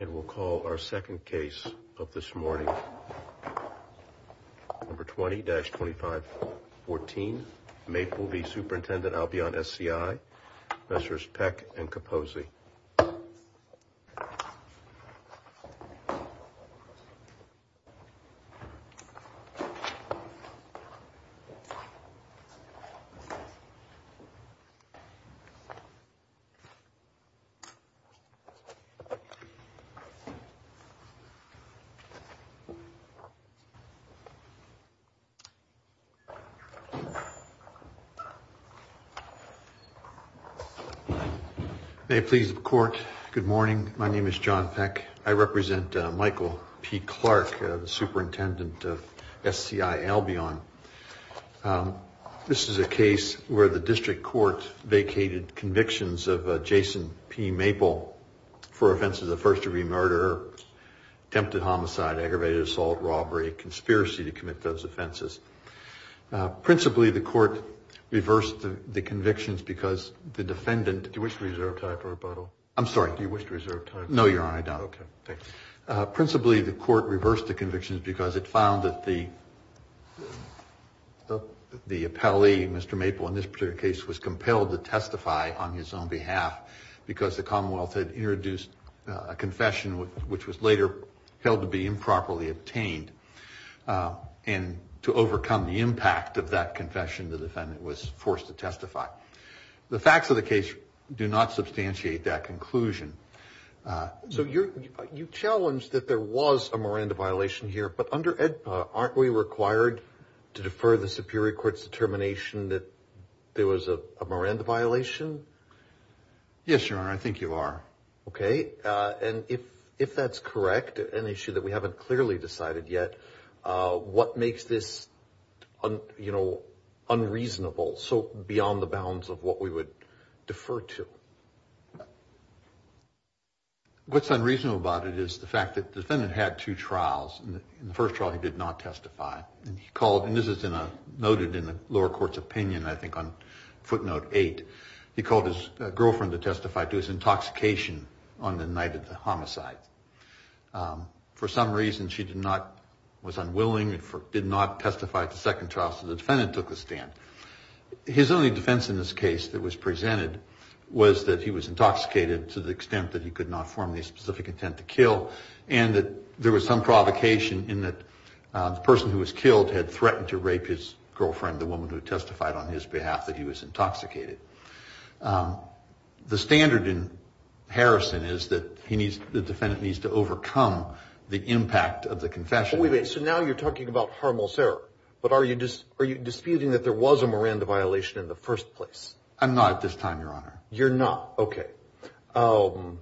and we'll call our second case of this morning. Number 20-25 14 Maple v. Superintendent Albion SCI, Messrs Peck and Capozzi. May it please the court. Good morning. My name is John Peck. I represent Michael P. Clark, the superintendent of SCI Albion. This is a case where the district court vacated convictions of Jason P. Maple for offenses of first-degree murder, attempted homicide, aggravated assault, robbery, conspiracy to commit those offenses. Principally, the court reversed the convictions because the defendant... Do you wish to reserve time for rebuttal? I'm sorry. Do you wish to reserve time? No, Your Honor, I don't. Okay. Principally, the court reversed the convictions because it found that the appellee, Mr. Maple, in this particular case was compelled to testify on his own behalf because the Commonwealth had introduced a confession which was later held to be improperly obtained and to overcome the impact of that confession, the defendant was forced to testify. The facts of the case do not substantiate that conclusion. So you challenged that there was a Miranda violation here, but under AEDPA, aren't we required to defer the Superior Court's determination that there was a Miranda violation? Yes, Your Honor, I think you are. Okay. And if that's correct, an issue that we haven't clearly decided yet, what makes this unreasonable, so beyond the bounds of what we would defer to? What's unreasonable about it is the fact that the defendant had two trials. In the first trial, he did not testify. He called, and this is noted in the lower court's opinion, I think on footnote eight, he called his girlfriend to testify to his intoxication on the night of the homicide. For some reason, she was unwilling and did not testify at the second trial, so the defendant took the stand. His only defense in this case that was presented was that he was intoxicated to the extent that he could not form the specific intent to kill and that there was some provocation in that the person who was killed had threatened to rape his girlfriend, the woman who testified on his behalf, that he was intoxicated. The standard in Harrison is that the defendant needs to overcome the impact of the confession. Wait a minute, so now you're talking about harmless error, but are you disputing that there was a Miranda violation in the first place? I'm not at this time, Your Honor. You're not, okay. All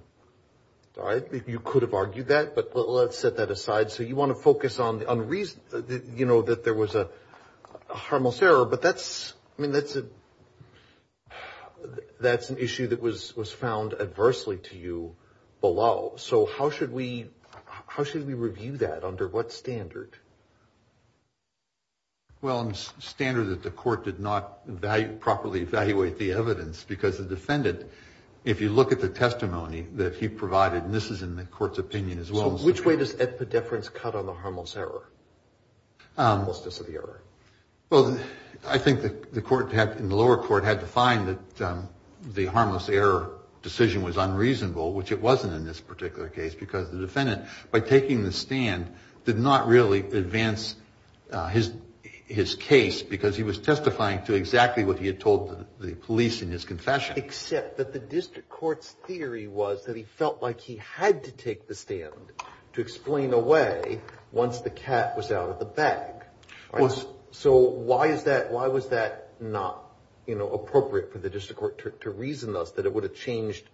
right, you could have argued that, but let's set that aside. So you want to focus on, you know, that there was a harmless error, but that's, I mean, that's an issue that was found adversely to you below. So how should we review that? Under what standard? Well, under the standard that the court did not properly evaluate the evidence, because the defendant, if you look at the testimony that he provided, and this is in the court's opinion as well. So which way does epidephrines cut on the harmless error? Well, I think the court in the lower court had to find that the harmless error decision was unreasonable, which it wasn't in this particular case, because the defendant, by taking the stand, did not really advance his case, because he was testifying to exactly what he had told the police in his confession. Except that the district court's theory was that he felt like he had to take the stand to explain away once the cat was out of the bag. So why is that, why was that not, you know, appropriate for the district court to reason thus, that it would have changed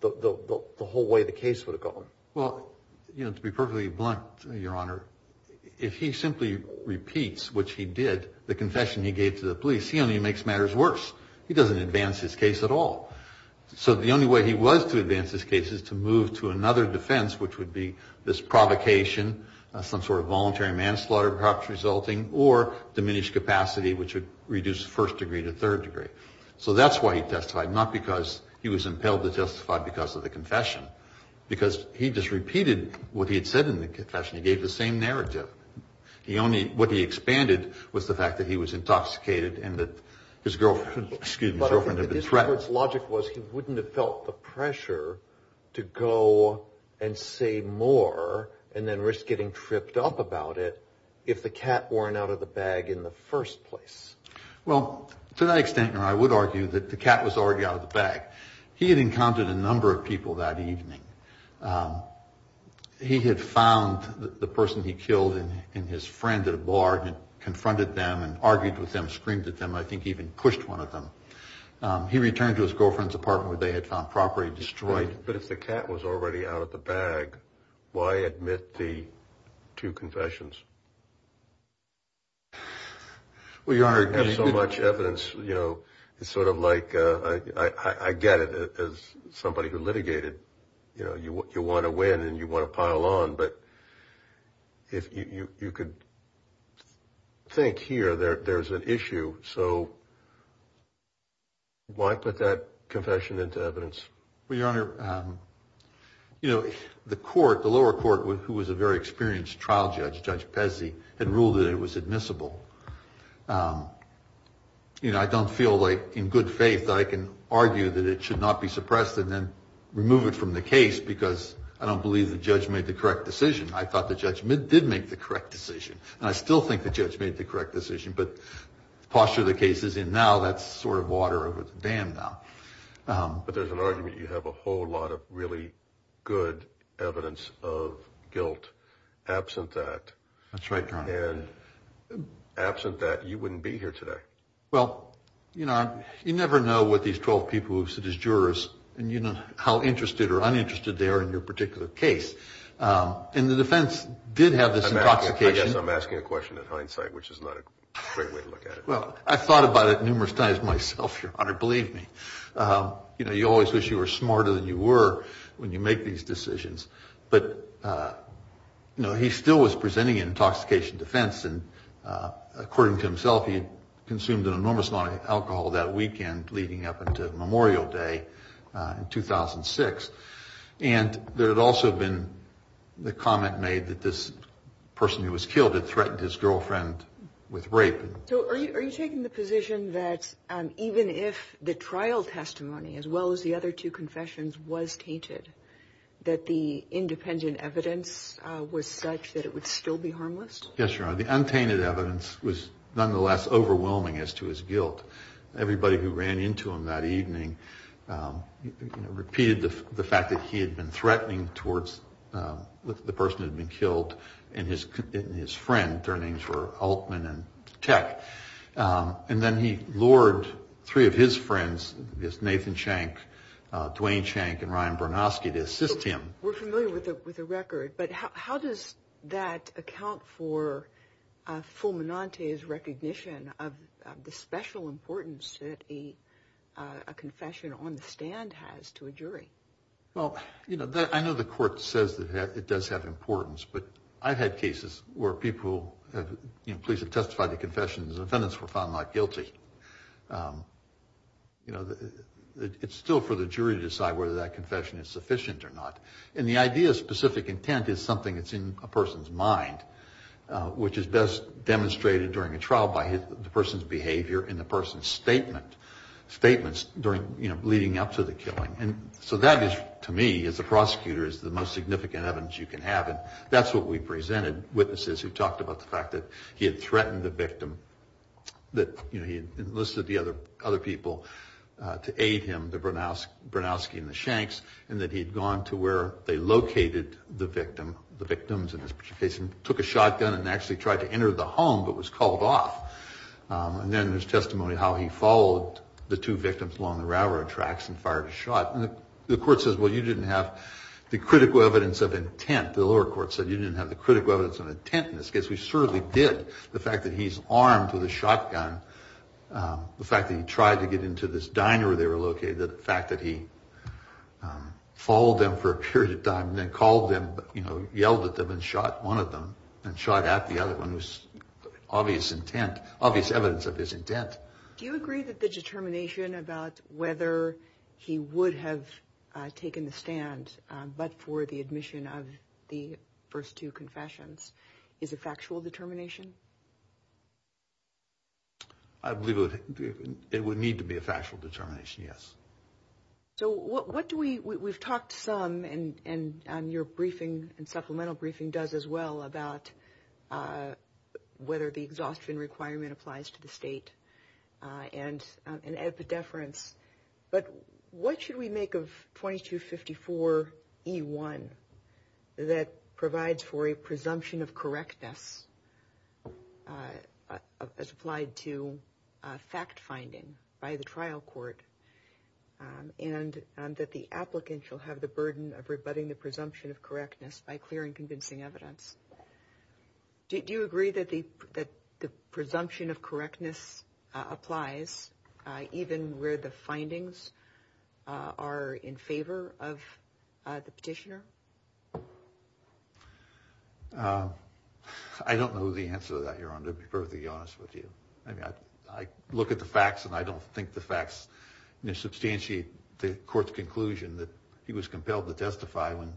the whole way the case would have gone? Well, you know, to be perfectly blunt, Your Honor, if he simply repeats, which he did, the confession he gave to the police, he only makes matters worse. He doesn't advance his case at all. So the only way he was to advance his case is to move to another defense, which would be this provocation, some sort of voluntary manslaughter perhaps resulting, or diminished capacity, which would reduce first degree to third degree. So that's why he testified, not because he was impelled to testify because of the confession, because he just repeated what he had said in the confession. He gave the same narrative. He only, what he expanded was the fact that he was intoxicated and that his girlfriend, excuse me, his girlfriend had been threatened. But I think the district court's logic was he wouldn't have felt the pressure to go and say more and then risk getting tripped up about it if the cat weren't out of the bag in the first place. Well, to that extent, Your Honor, I would argue that the cat was already out of the bag. He had encountered a number of people that evening. He had found the person he killed in his friend at a bar and confronted them and argued with them, screamed at them. I think he even pushed one of them. He returned to his girlfriend's apartment where they had found property destroyed. But if the cat was already out of the bag, why admit the two confessions? Well, Your Honor, you have so much evidence, you know, it's sort of like I get it as somebody who litigated, you know, you want to win and you want to pile on. But if you could think here, there's an issue. So why put that confession into evidence? Well, Your Honor, you know, the court, the lower court, who was a very experienced trial judge, Judge Pezzi, had ruled that it was admissible. You know, I don't feel like in good faith that I can argue that it should not be suppressed and then remove it from the case because I don't believe the judge made the correct decision. I thought the judge did make the correct decision. And I still think the judge made the correct decision. But the posture the case is in now, that's sort of water over the dam now. But there's an argument you have a whole lot of really good evidence of guilt absent that. That's right, Your Honor. And absent that, you wouldn't be here today. Well, you know, you never know what these 12 people who sit as jurors and you know how interested or uninterested they are in your particular case. And the defense did have this intoxication. I guess I'm asking a question in hindsight, which is not a great way to look at it. Well, I thought about it numerous times myself, Your Honor, believe me. You know, you always wish you were smarter than you were when you make these decisions. But, you know, he still was presenting an intoxication defense. And according to himself, he had consumed an enormous amount of alcohol that weekend leading up until Memorial Day in 2006. And there had also been the comment made that this person who was killed had threatened his girlfriend with rape. So are you taking the position that even if the trial testimony as well as the other two confessions was tainted, that the independent evidence was such that it would still be harmless? Yes, Your Honor. The untainted evidence was nonetheless overwhelming as to his guilt. Everybody who ran into him that evening repeated the fact that he had been threatening towards the person who had been killed and his friend. Their names were Altman and Tech. And then he lured three of his friends, Nathan Shank, Dwayne Shank, and Ryan Bernoski to assist him. We're familiar with the record. But how does that account for Fulminante's recognition of the special importance that a confession on the stand has to a jury? Well, you know, I know the court says that it does have importance. But I've had cases where people, you know, police have testified to confessions and defendants were found not guilty. You know, it's still for the jury to decide whether that confession is sufficient or not. And the idea of specific intent is something that's in a person's mind, which is best demonstrated during a trial by the person's behavior and the person's statement, statements during, you know, leading up to the killing. And so that is, to me, as a prosecutor, is the most significant evidence you can have. That's what we presented, witnesses who talked about the fact that he had threatened the victim, that he had enlisted the other people to aid him, the Bernoski and the Shanks, and that he had gone to where they located the victim, the victims in this particular case, and took a shotgun and actually tried to enter the home but was called off. And then there's testimony of how he followed the two victims along the railroad tracks and fired a shot. And the court says, well, you didn't have the critical evidence of intent. The lower court said you didn't have the critical evidence of intent in this case. We certainly did. The fact that he's armed with a shotgun, the fact that he tried to get into this diner where they were located, the fact that he followed them for a period of time and then called them, you know, yelled at them and shot one of them and shot at the other one was obvious intent, obvious evidence of his intent. Do you agree that the determination about whether he would have taken the stand but for the admission of the first two confessions is a factual determination? I believe it would need to be a factual determination, yes. So what do we – we've talked some, and your briefing and supplemental briefing does as well, about whether the exhaustion requirement applies to the state and epidefference. But what should we make of 2254E1 that provides for a presumption of correctness as applied to fact-finding by the trial court and that the applicant shall have the burden of rebutting the presumption of correctness by clearing convincing evidence? Do you agree that the presumption of correctness applies even where the findings are in favor of the petitioner? I don't know the answer to that, Your Honor, to be perfectly honest with you. I mean, I look at the facts and I don't think the facts, you know, substantiate the court's conclusion that he was compelled to testify when,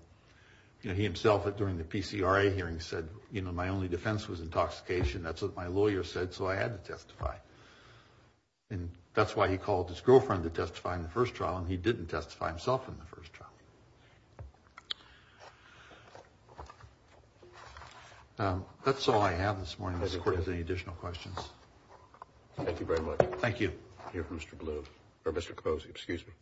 you know, he himself during the PCRA hearing said, you know, my only defense was intoxication. That's what my lawyer said, so I had to testify. And that's why he called his girlfriend to testify in the first trial, and he didn't testify himself in the first trial. Thank you. That's all I have this morning. Does the court have any additional questions? Thank you very much. Thank you. Mr. Blue, or Mr. Capozzi, excuse me.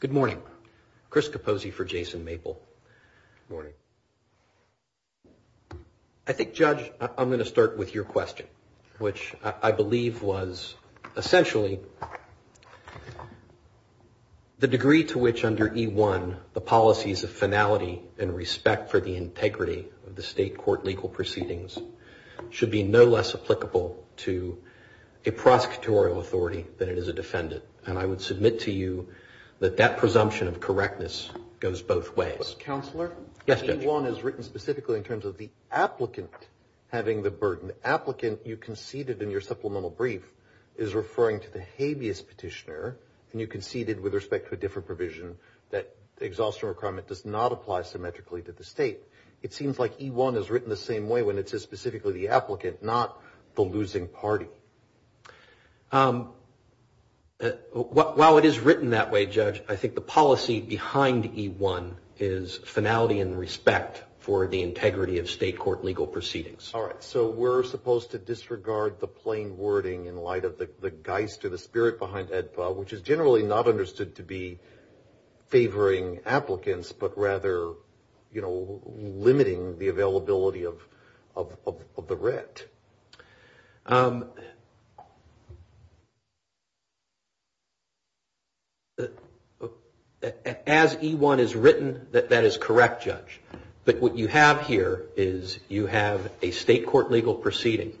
Good morning. Good morning. Chris Capozzi for Jason Maple. Good morning. I think, Judge, I'm going to start with your question, which I believe was essentially the degree to which under E-1, the policies of finality and respect for the integrity of the state court legal proceedings should be no less applicable to a prosecutorial authority than it is a defendant. And I would submit to you that that presumption of correctness goes both ways. Counselor? Yes, Judge. E-1 is written specifically in terms of the applicant having the burden. The applicant you conceded in your supplemental brief is referring to the habeas petitioner, and you conceded with respect to a different provision that the exhaustion requirement does not apply symmetrically to the state. It seems like E-1 is written the same way when it says specifically the applicant, not the losing party. While it is written that way, Judge, I think the policy behind E-1 is finality and respect for the integrity of state court legal proceedings. All right. So we're supposed to disregard the plain wording in light of the geist or the spirit behind AEDPA, which is generally not understood to be favoring applicants, but rather, you know, limiting the availability of the writ. As E-1 is written, that is correct, Judge. But what you have here is you have a state court legal proceeding.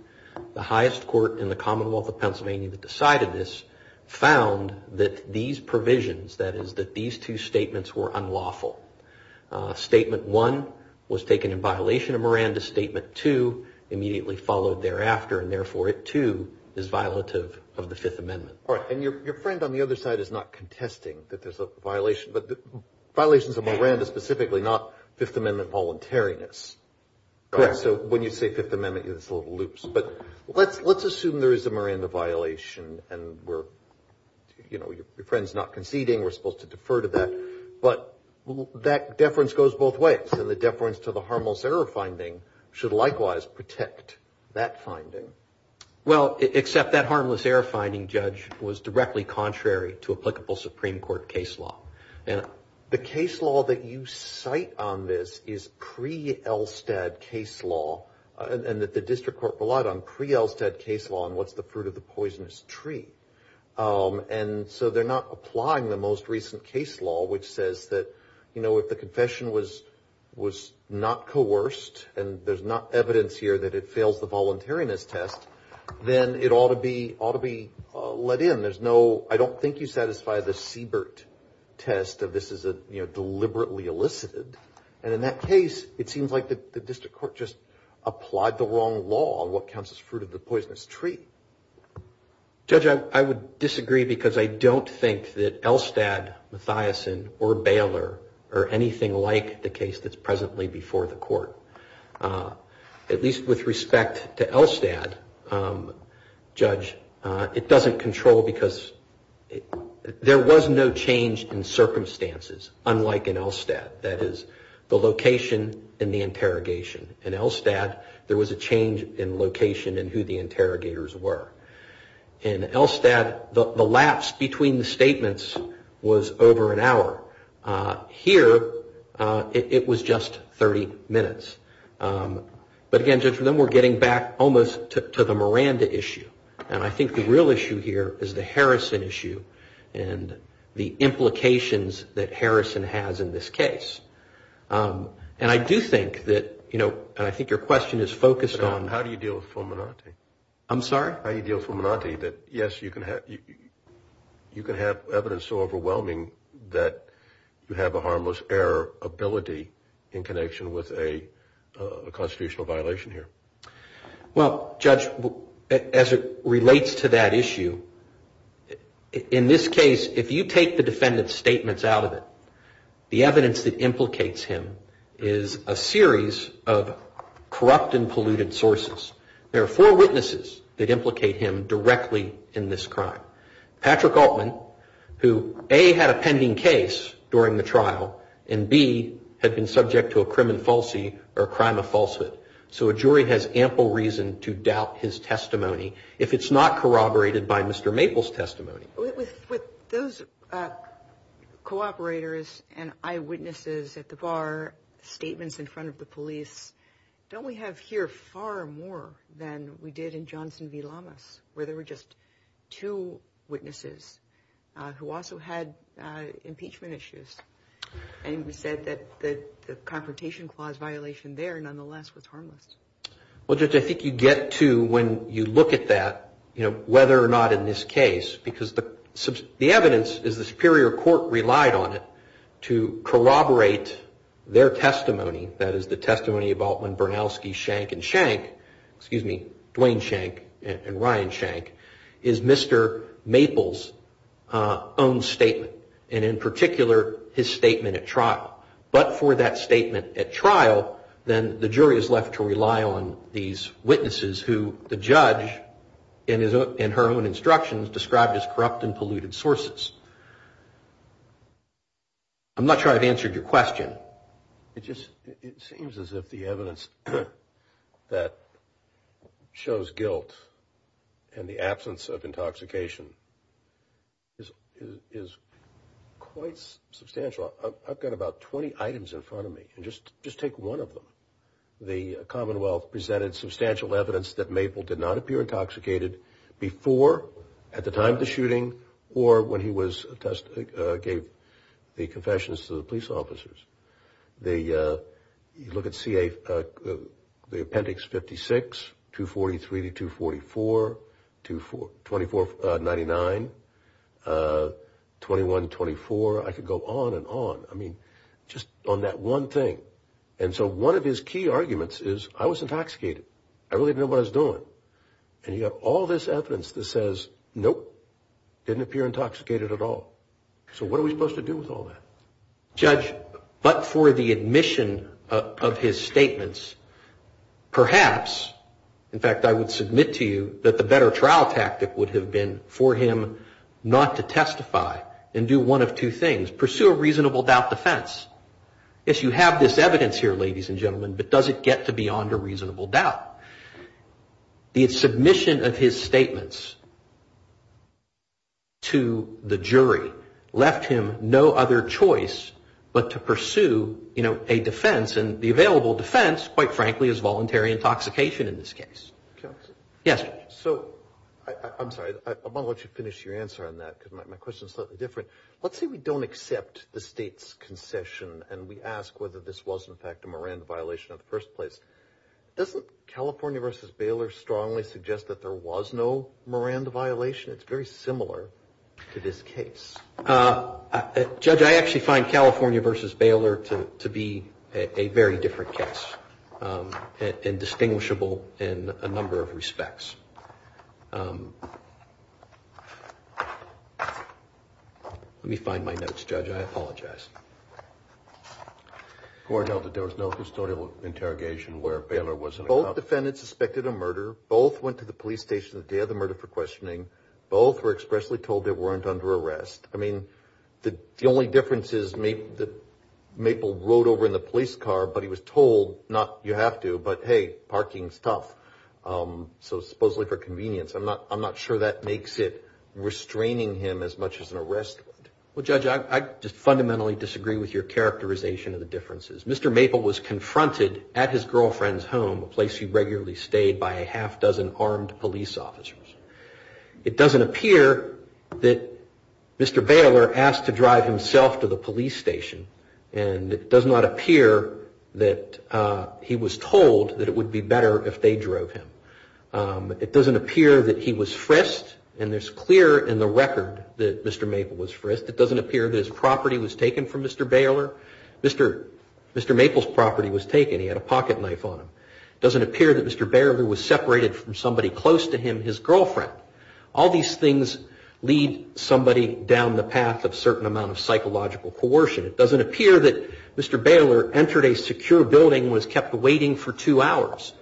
The highest court in the Commonwealth of Pennsylvania that decided this found that these provisions, that is that these two statements were unlawful. Statement one was taken in violation of Miranda. Statement two immediately followed thereafter, and therefore it, too, is violative of the Fifth Amendment. All right. And your friend on the other side is not contesting that there's a violation, but violations of Miranda specifically, not Fifth Amendment voluntariness. Correct. So when you say Fifth Amendment, it's a little loose. But let's assume there is a Miranda violation, and we're, you know, your friend's not conceding. We're supposed to defer to that. But that deference goes both ways, and the deference to the harmless error finding should likewise protect that finding. Well, except that harmless error finding, Judge, was directly contrary to applicable Supreme Court case law. And the case law that you cite on this is pre-Elstad case law, and that the district court relied on pre-Elstad case law on what's the fruit of the poisonous tree. And so they're not applying the most recent case law, which says that, you know, if the confession was not coerced, and there's not evidence here that it fails the voluntariness test, then it ought to be let in. And there's no, I don't think you satisfy the Siebert test of this is a, you know, deliberately elicited. And in that case, it seems like the district court just applied the wrong law on what counts as fruit of the poisonous tree. Judge, I would disagree because I don't think that Elstad, Mathiasson, or Baylor, are anything like the case that's presently before the court. At least with respect to Elstad, Judge, it doesn't control, because there was no change in circumstances unlike in Elstad. That is, the location and the interrogation. In Elstad, there was a change in location and who the interrogators were. In Elstad, the lapse between the statements was over an hour. Here, it was just 30 minutes. But again, Judge, then we're getting back almost to the Miranda issue. And I think the real issue here is the Harrison issue and the implications that Harrison has in this case. And I do think that, you know, and I think your question is focused on. How do you deal with Fulminante? I'm sorry? How do you deal with Fulminante that, yes, you can have evidence so overwhelming that you have a harmless error ability in connection with a constitutional violation here? Well, Judge, as it relates to that issue, in this case, if you take the defendant's statements out of it, the evidence that implicates him is a series of corrupt and polluted sources. There are four witnesses that implicate him directly in this crime. Patrick Altman, who A, had a pending case during the trial, and B, had been subject to a crime of falsehood. So a jury has ample reason to doubt his testimony if it's not corroborated by Mr. Maple's testimony. With those cooperators and eyewitnesses at the bar, statements in front of the police, don't we have here far more than we did in Johnson v. Lamas, where there were just two witnesses who also had impeachment issues and said that the confrontation clause violation there nonetheless was harmless? Well, Judge, I think you get to when you look at that, you know, whether or not in this case, because the evidence is the superior court relied on it to corroborate their testimony, that is the testimony of Altman, Bernalski, Schenck, and Schenck, excuse me, Duane Schenck and Ryan Schenck, is Mr. Maple's own statement, and in particular, his statement at trial. But for that statement at trial, then the jury is left to rely on these witnesses who the judge, in her own instructions, described as corrupt and polluted sources. I'm not sure I've answered your question. It seems as if the evidence that shows guilt and the absence of intoxication is quite substantial. I've got about 20 items in front of me, and just take one of them. The Commonwealth presented substantial evidence that Maple did not appear intoxicated before, at the time of the shooting, or when he gave the confessions to the police officers. You look at the appendix 56, 243 to 244, 2499, 2124. I could go on and on, I mean, just on that one thing. And so one of his key arguments is, I was intoxicated. And you have all this evidence that says, nope, didn't appear intoxicated at all. So what are we supposed to do with all that? Judge, but for the admission of his statements, perhaps, in fact, I would submit to you that the better trial tactic would have been for him not to testify and do one of two things, pursue a reasonable doubt defense. Yes, you have this evidence here, ladies and gentlemen, but does it get to beyond a reasonable doubt? The submission of his statements to the jury left him no other choice but to pursue a defense, and the available defense, quite frankly, is voluntary intoxication in this case. Counsel? Yes, Judge. So, I'm sorry, I want to let you finish your answer on that, because my question is slightly different. Let's say we don't accept the State's concession, and we ask whether this was, in fact, a Miranda violation in the first place. Doesn't California v. Baylor strongly suggest that there was no Miranda violation? It's very similar to this case. Judge, I actually find California v. Baylor to be a very different case and distinguishable in a number of respects. Let me find my notes, Judge. I apologize. The court held that there was no historical interrogation where Baylor was in account. Both defendants suspected a murder. Both went to the police station the day of the murder for questioning. Both were expressly told they weren't under arrest. I mean, the only difference is that Maple rode over in the police car, but he was told, not you have to, but, hey, parking's tough. So, supposedly for convenience. I'm not sure that makes it restraining him as much as an arrest would. Well, Judge, I just fundamentally disagree with your characterization of the differences. Mr. Maple was confronted at his girlfriend's home, a place she regularly stayed, by a half dozen armed police officers. It doesn't appear that Mr. Baylor asked to drive himself to the police station. And it does not appear that he was told that it would be better if they drove him. It doesn't appear that he was frisked. And it's clear in the record that Mr. Maple was frisked. It doesn't appear that his property was taken from Mr. Baylor. Mr. Maple's property was taken. He had a pocket knife on him. It doesn't appear that Mr. Baylor was separated from somebody close to him, his girlfriend. All these things lead somebody down the path of certain amount of psychological coercion. It doesn't appear that Mr. Baylor entered a secure building and was kept waiting for two hours.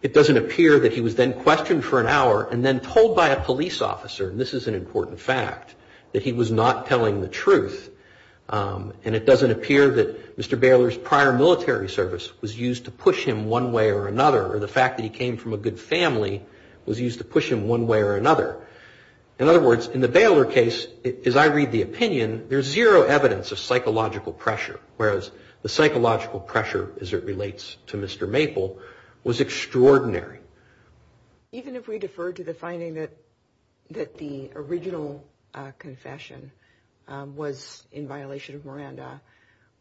It doesn't appear that he was then questioned for an hour and then told by a police officer, and this is an important fact, that he was not telling the truth. And it doesn't appear that Mr. Baylor's prior military service was used to push him one way or another, or the fact that he came from a good family was used to push him one way or another. In other words, in the Baylor case, as I read the opinion, there's zero evidence of psychological pressure, whereas the psychological pressure, as it relates to Mr. Maple, was extraordinary. Even if we defer to the finding that the original confession was in violation of Miranda,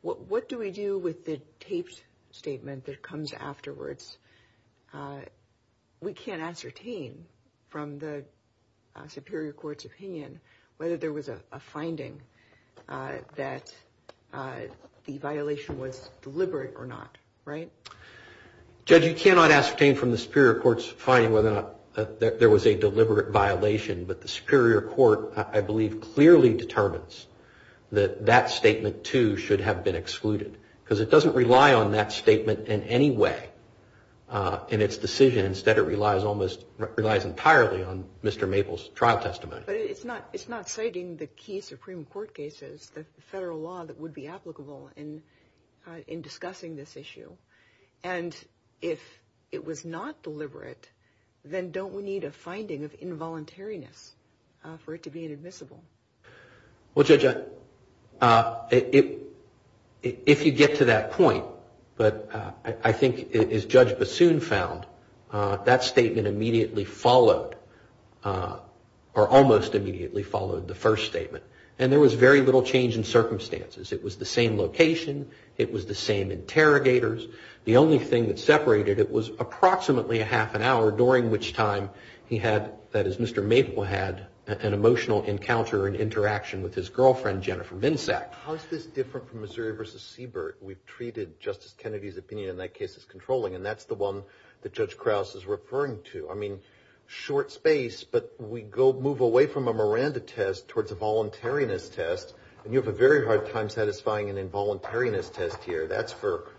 what do we do with the taped statement that comes afterwards? We can't ascertain from the superior court's opinion whether there was a finding that the violation was deliberate or not, right? Judge, you cannot ascertain from the superior court's finding whether or not there was a deliberate violation, but the superior court, I believe, clearly determines that that statement, too, should have been excluded, because it doesn't rely on that statement in any way in its decision. Instead, it relies entirely on Mr. Maple's trial testimony. But it's not citing the key supreme court cases, the federal law that would be applicable in discussing this issue, and if it was not deliberate, then don't we need a finding of involuntariness for it to be inadmissible? Well, Judge, if you get to that point, but I think, as Judge Bassoon found, that statement immediately followed, or almost immediately followed the first statement. And there was very little change in circumstances. It was the same location. It was the same interrogators. The only thing that separated it was approximately a half an hour, during which time he had, that is, Mr. Maple had an emotional encounter and interaction with his girlfriend, Jennifer Vinsack. How is this different from Missouri v. Siebert? We've treated Justice Kennedy's opinion in that case as controlling, and that's the one that Judge Krause is referring to. I mean, short space, but we move away from a Miranda test towards a voluntariness test, and you have a very hard time satisfying an involuntariness test here. That's for,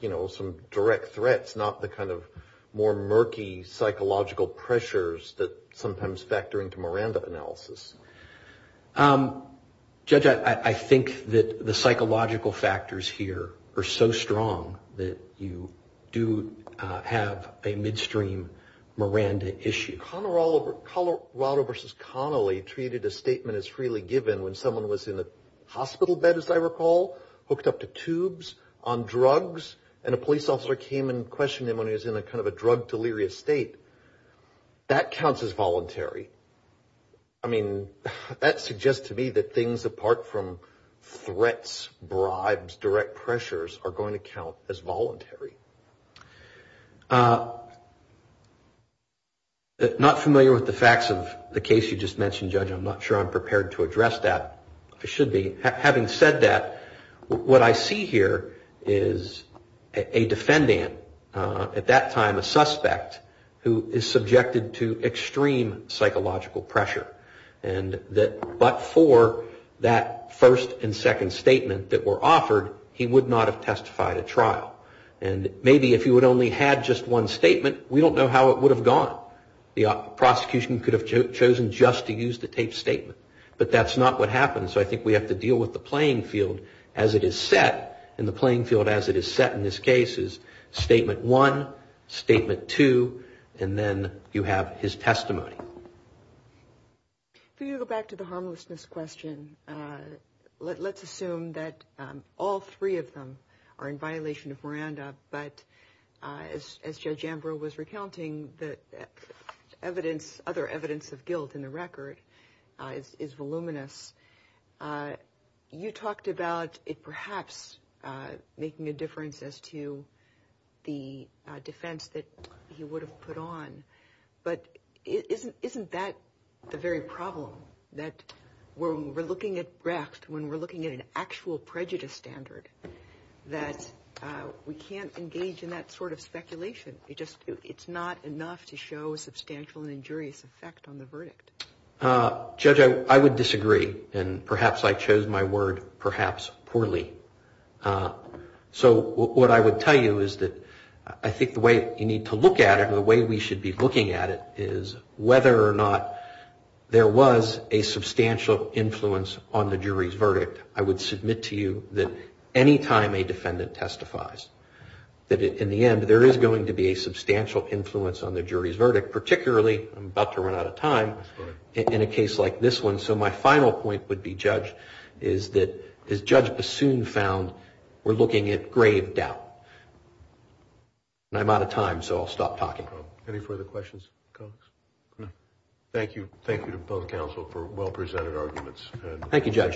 you know, some direct threats, not the kind of more murky psychological pressures that sometimes factor into Miranda analysis. Judge, I think that the psychological factors here are so strong that you do have a midstream Miranda issue. Colorado v. Connolly treated a statement as freely given when someone was in a hospital bed, as I recall, hooked up to tubes, on drugs, and a police officer came and questioned him when he was in a kind of a drug delirious state. That counts as voluntary. I mean, that suggests to me that things apart from threats, bribes, direct pressures are going to count as voluntary. Not familiar with the facts of the case you just mentioned, Judge. I'm not sure I'm prepared to address that. I should be. Having said that, what I see here is a defendant, at that time a suspect, who is subjected to extreme psychological pressure, and that but for that first and second statement that were offered, he would not have testified at trial. And maybe if he would only have just one statement, we don't know how it would have gone. The prosecution could have chosen just to use the taped statement, but that's not what happened, so I think we have to deal with the playing field as it is set, and the playing field as it is set in this case is statement one, statement two, and then you have his testimony. If we go back to the harmlessness question, let's assume that all three of them are in violation of Miranda, but as Judge Ambrose was recounting, the other evidence of guilt in the record is voluminous. You talked about it perhaps making a difference as to the defense that he would have put on, but isn't that the very problem, that when we're looking at Brecht, when we're looking at an actual prejudice standard, that we can't engage in that sort of speculation. It's not enough to show a substantial and injurious effect on the verdict. Judge, I would disagree, and perhaps I chose my word perhaps poorly. So what I would tell you is that I think the way you need to look at it, the way we should be looking at it is whether or not there was a substantial influence on the jury's verdict. I would submit to you that any time a defendant testifies, that in the end there is going to be a substantial influence on the jury's verdict, particularly, I'm about to run out of time, in a case like this one. So my final point would be, Judge, is that as Judge Bassoon found, we're looking at grave doubt. I'm out of time, so I'll stop talking. Any further questions? Thank you. Thank you to both counsel for well-presented arguments. Thank you, Judge.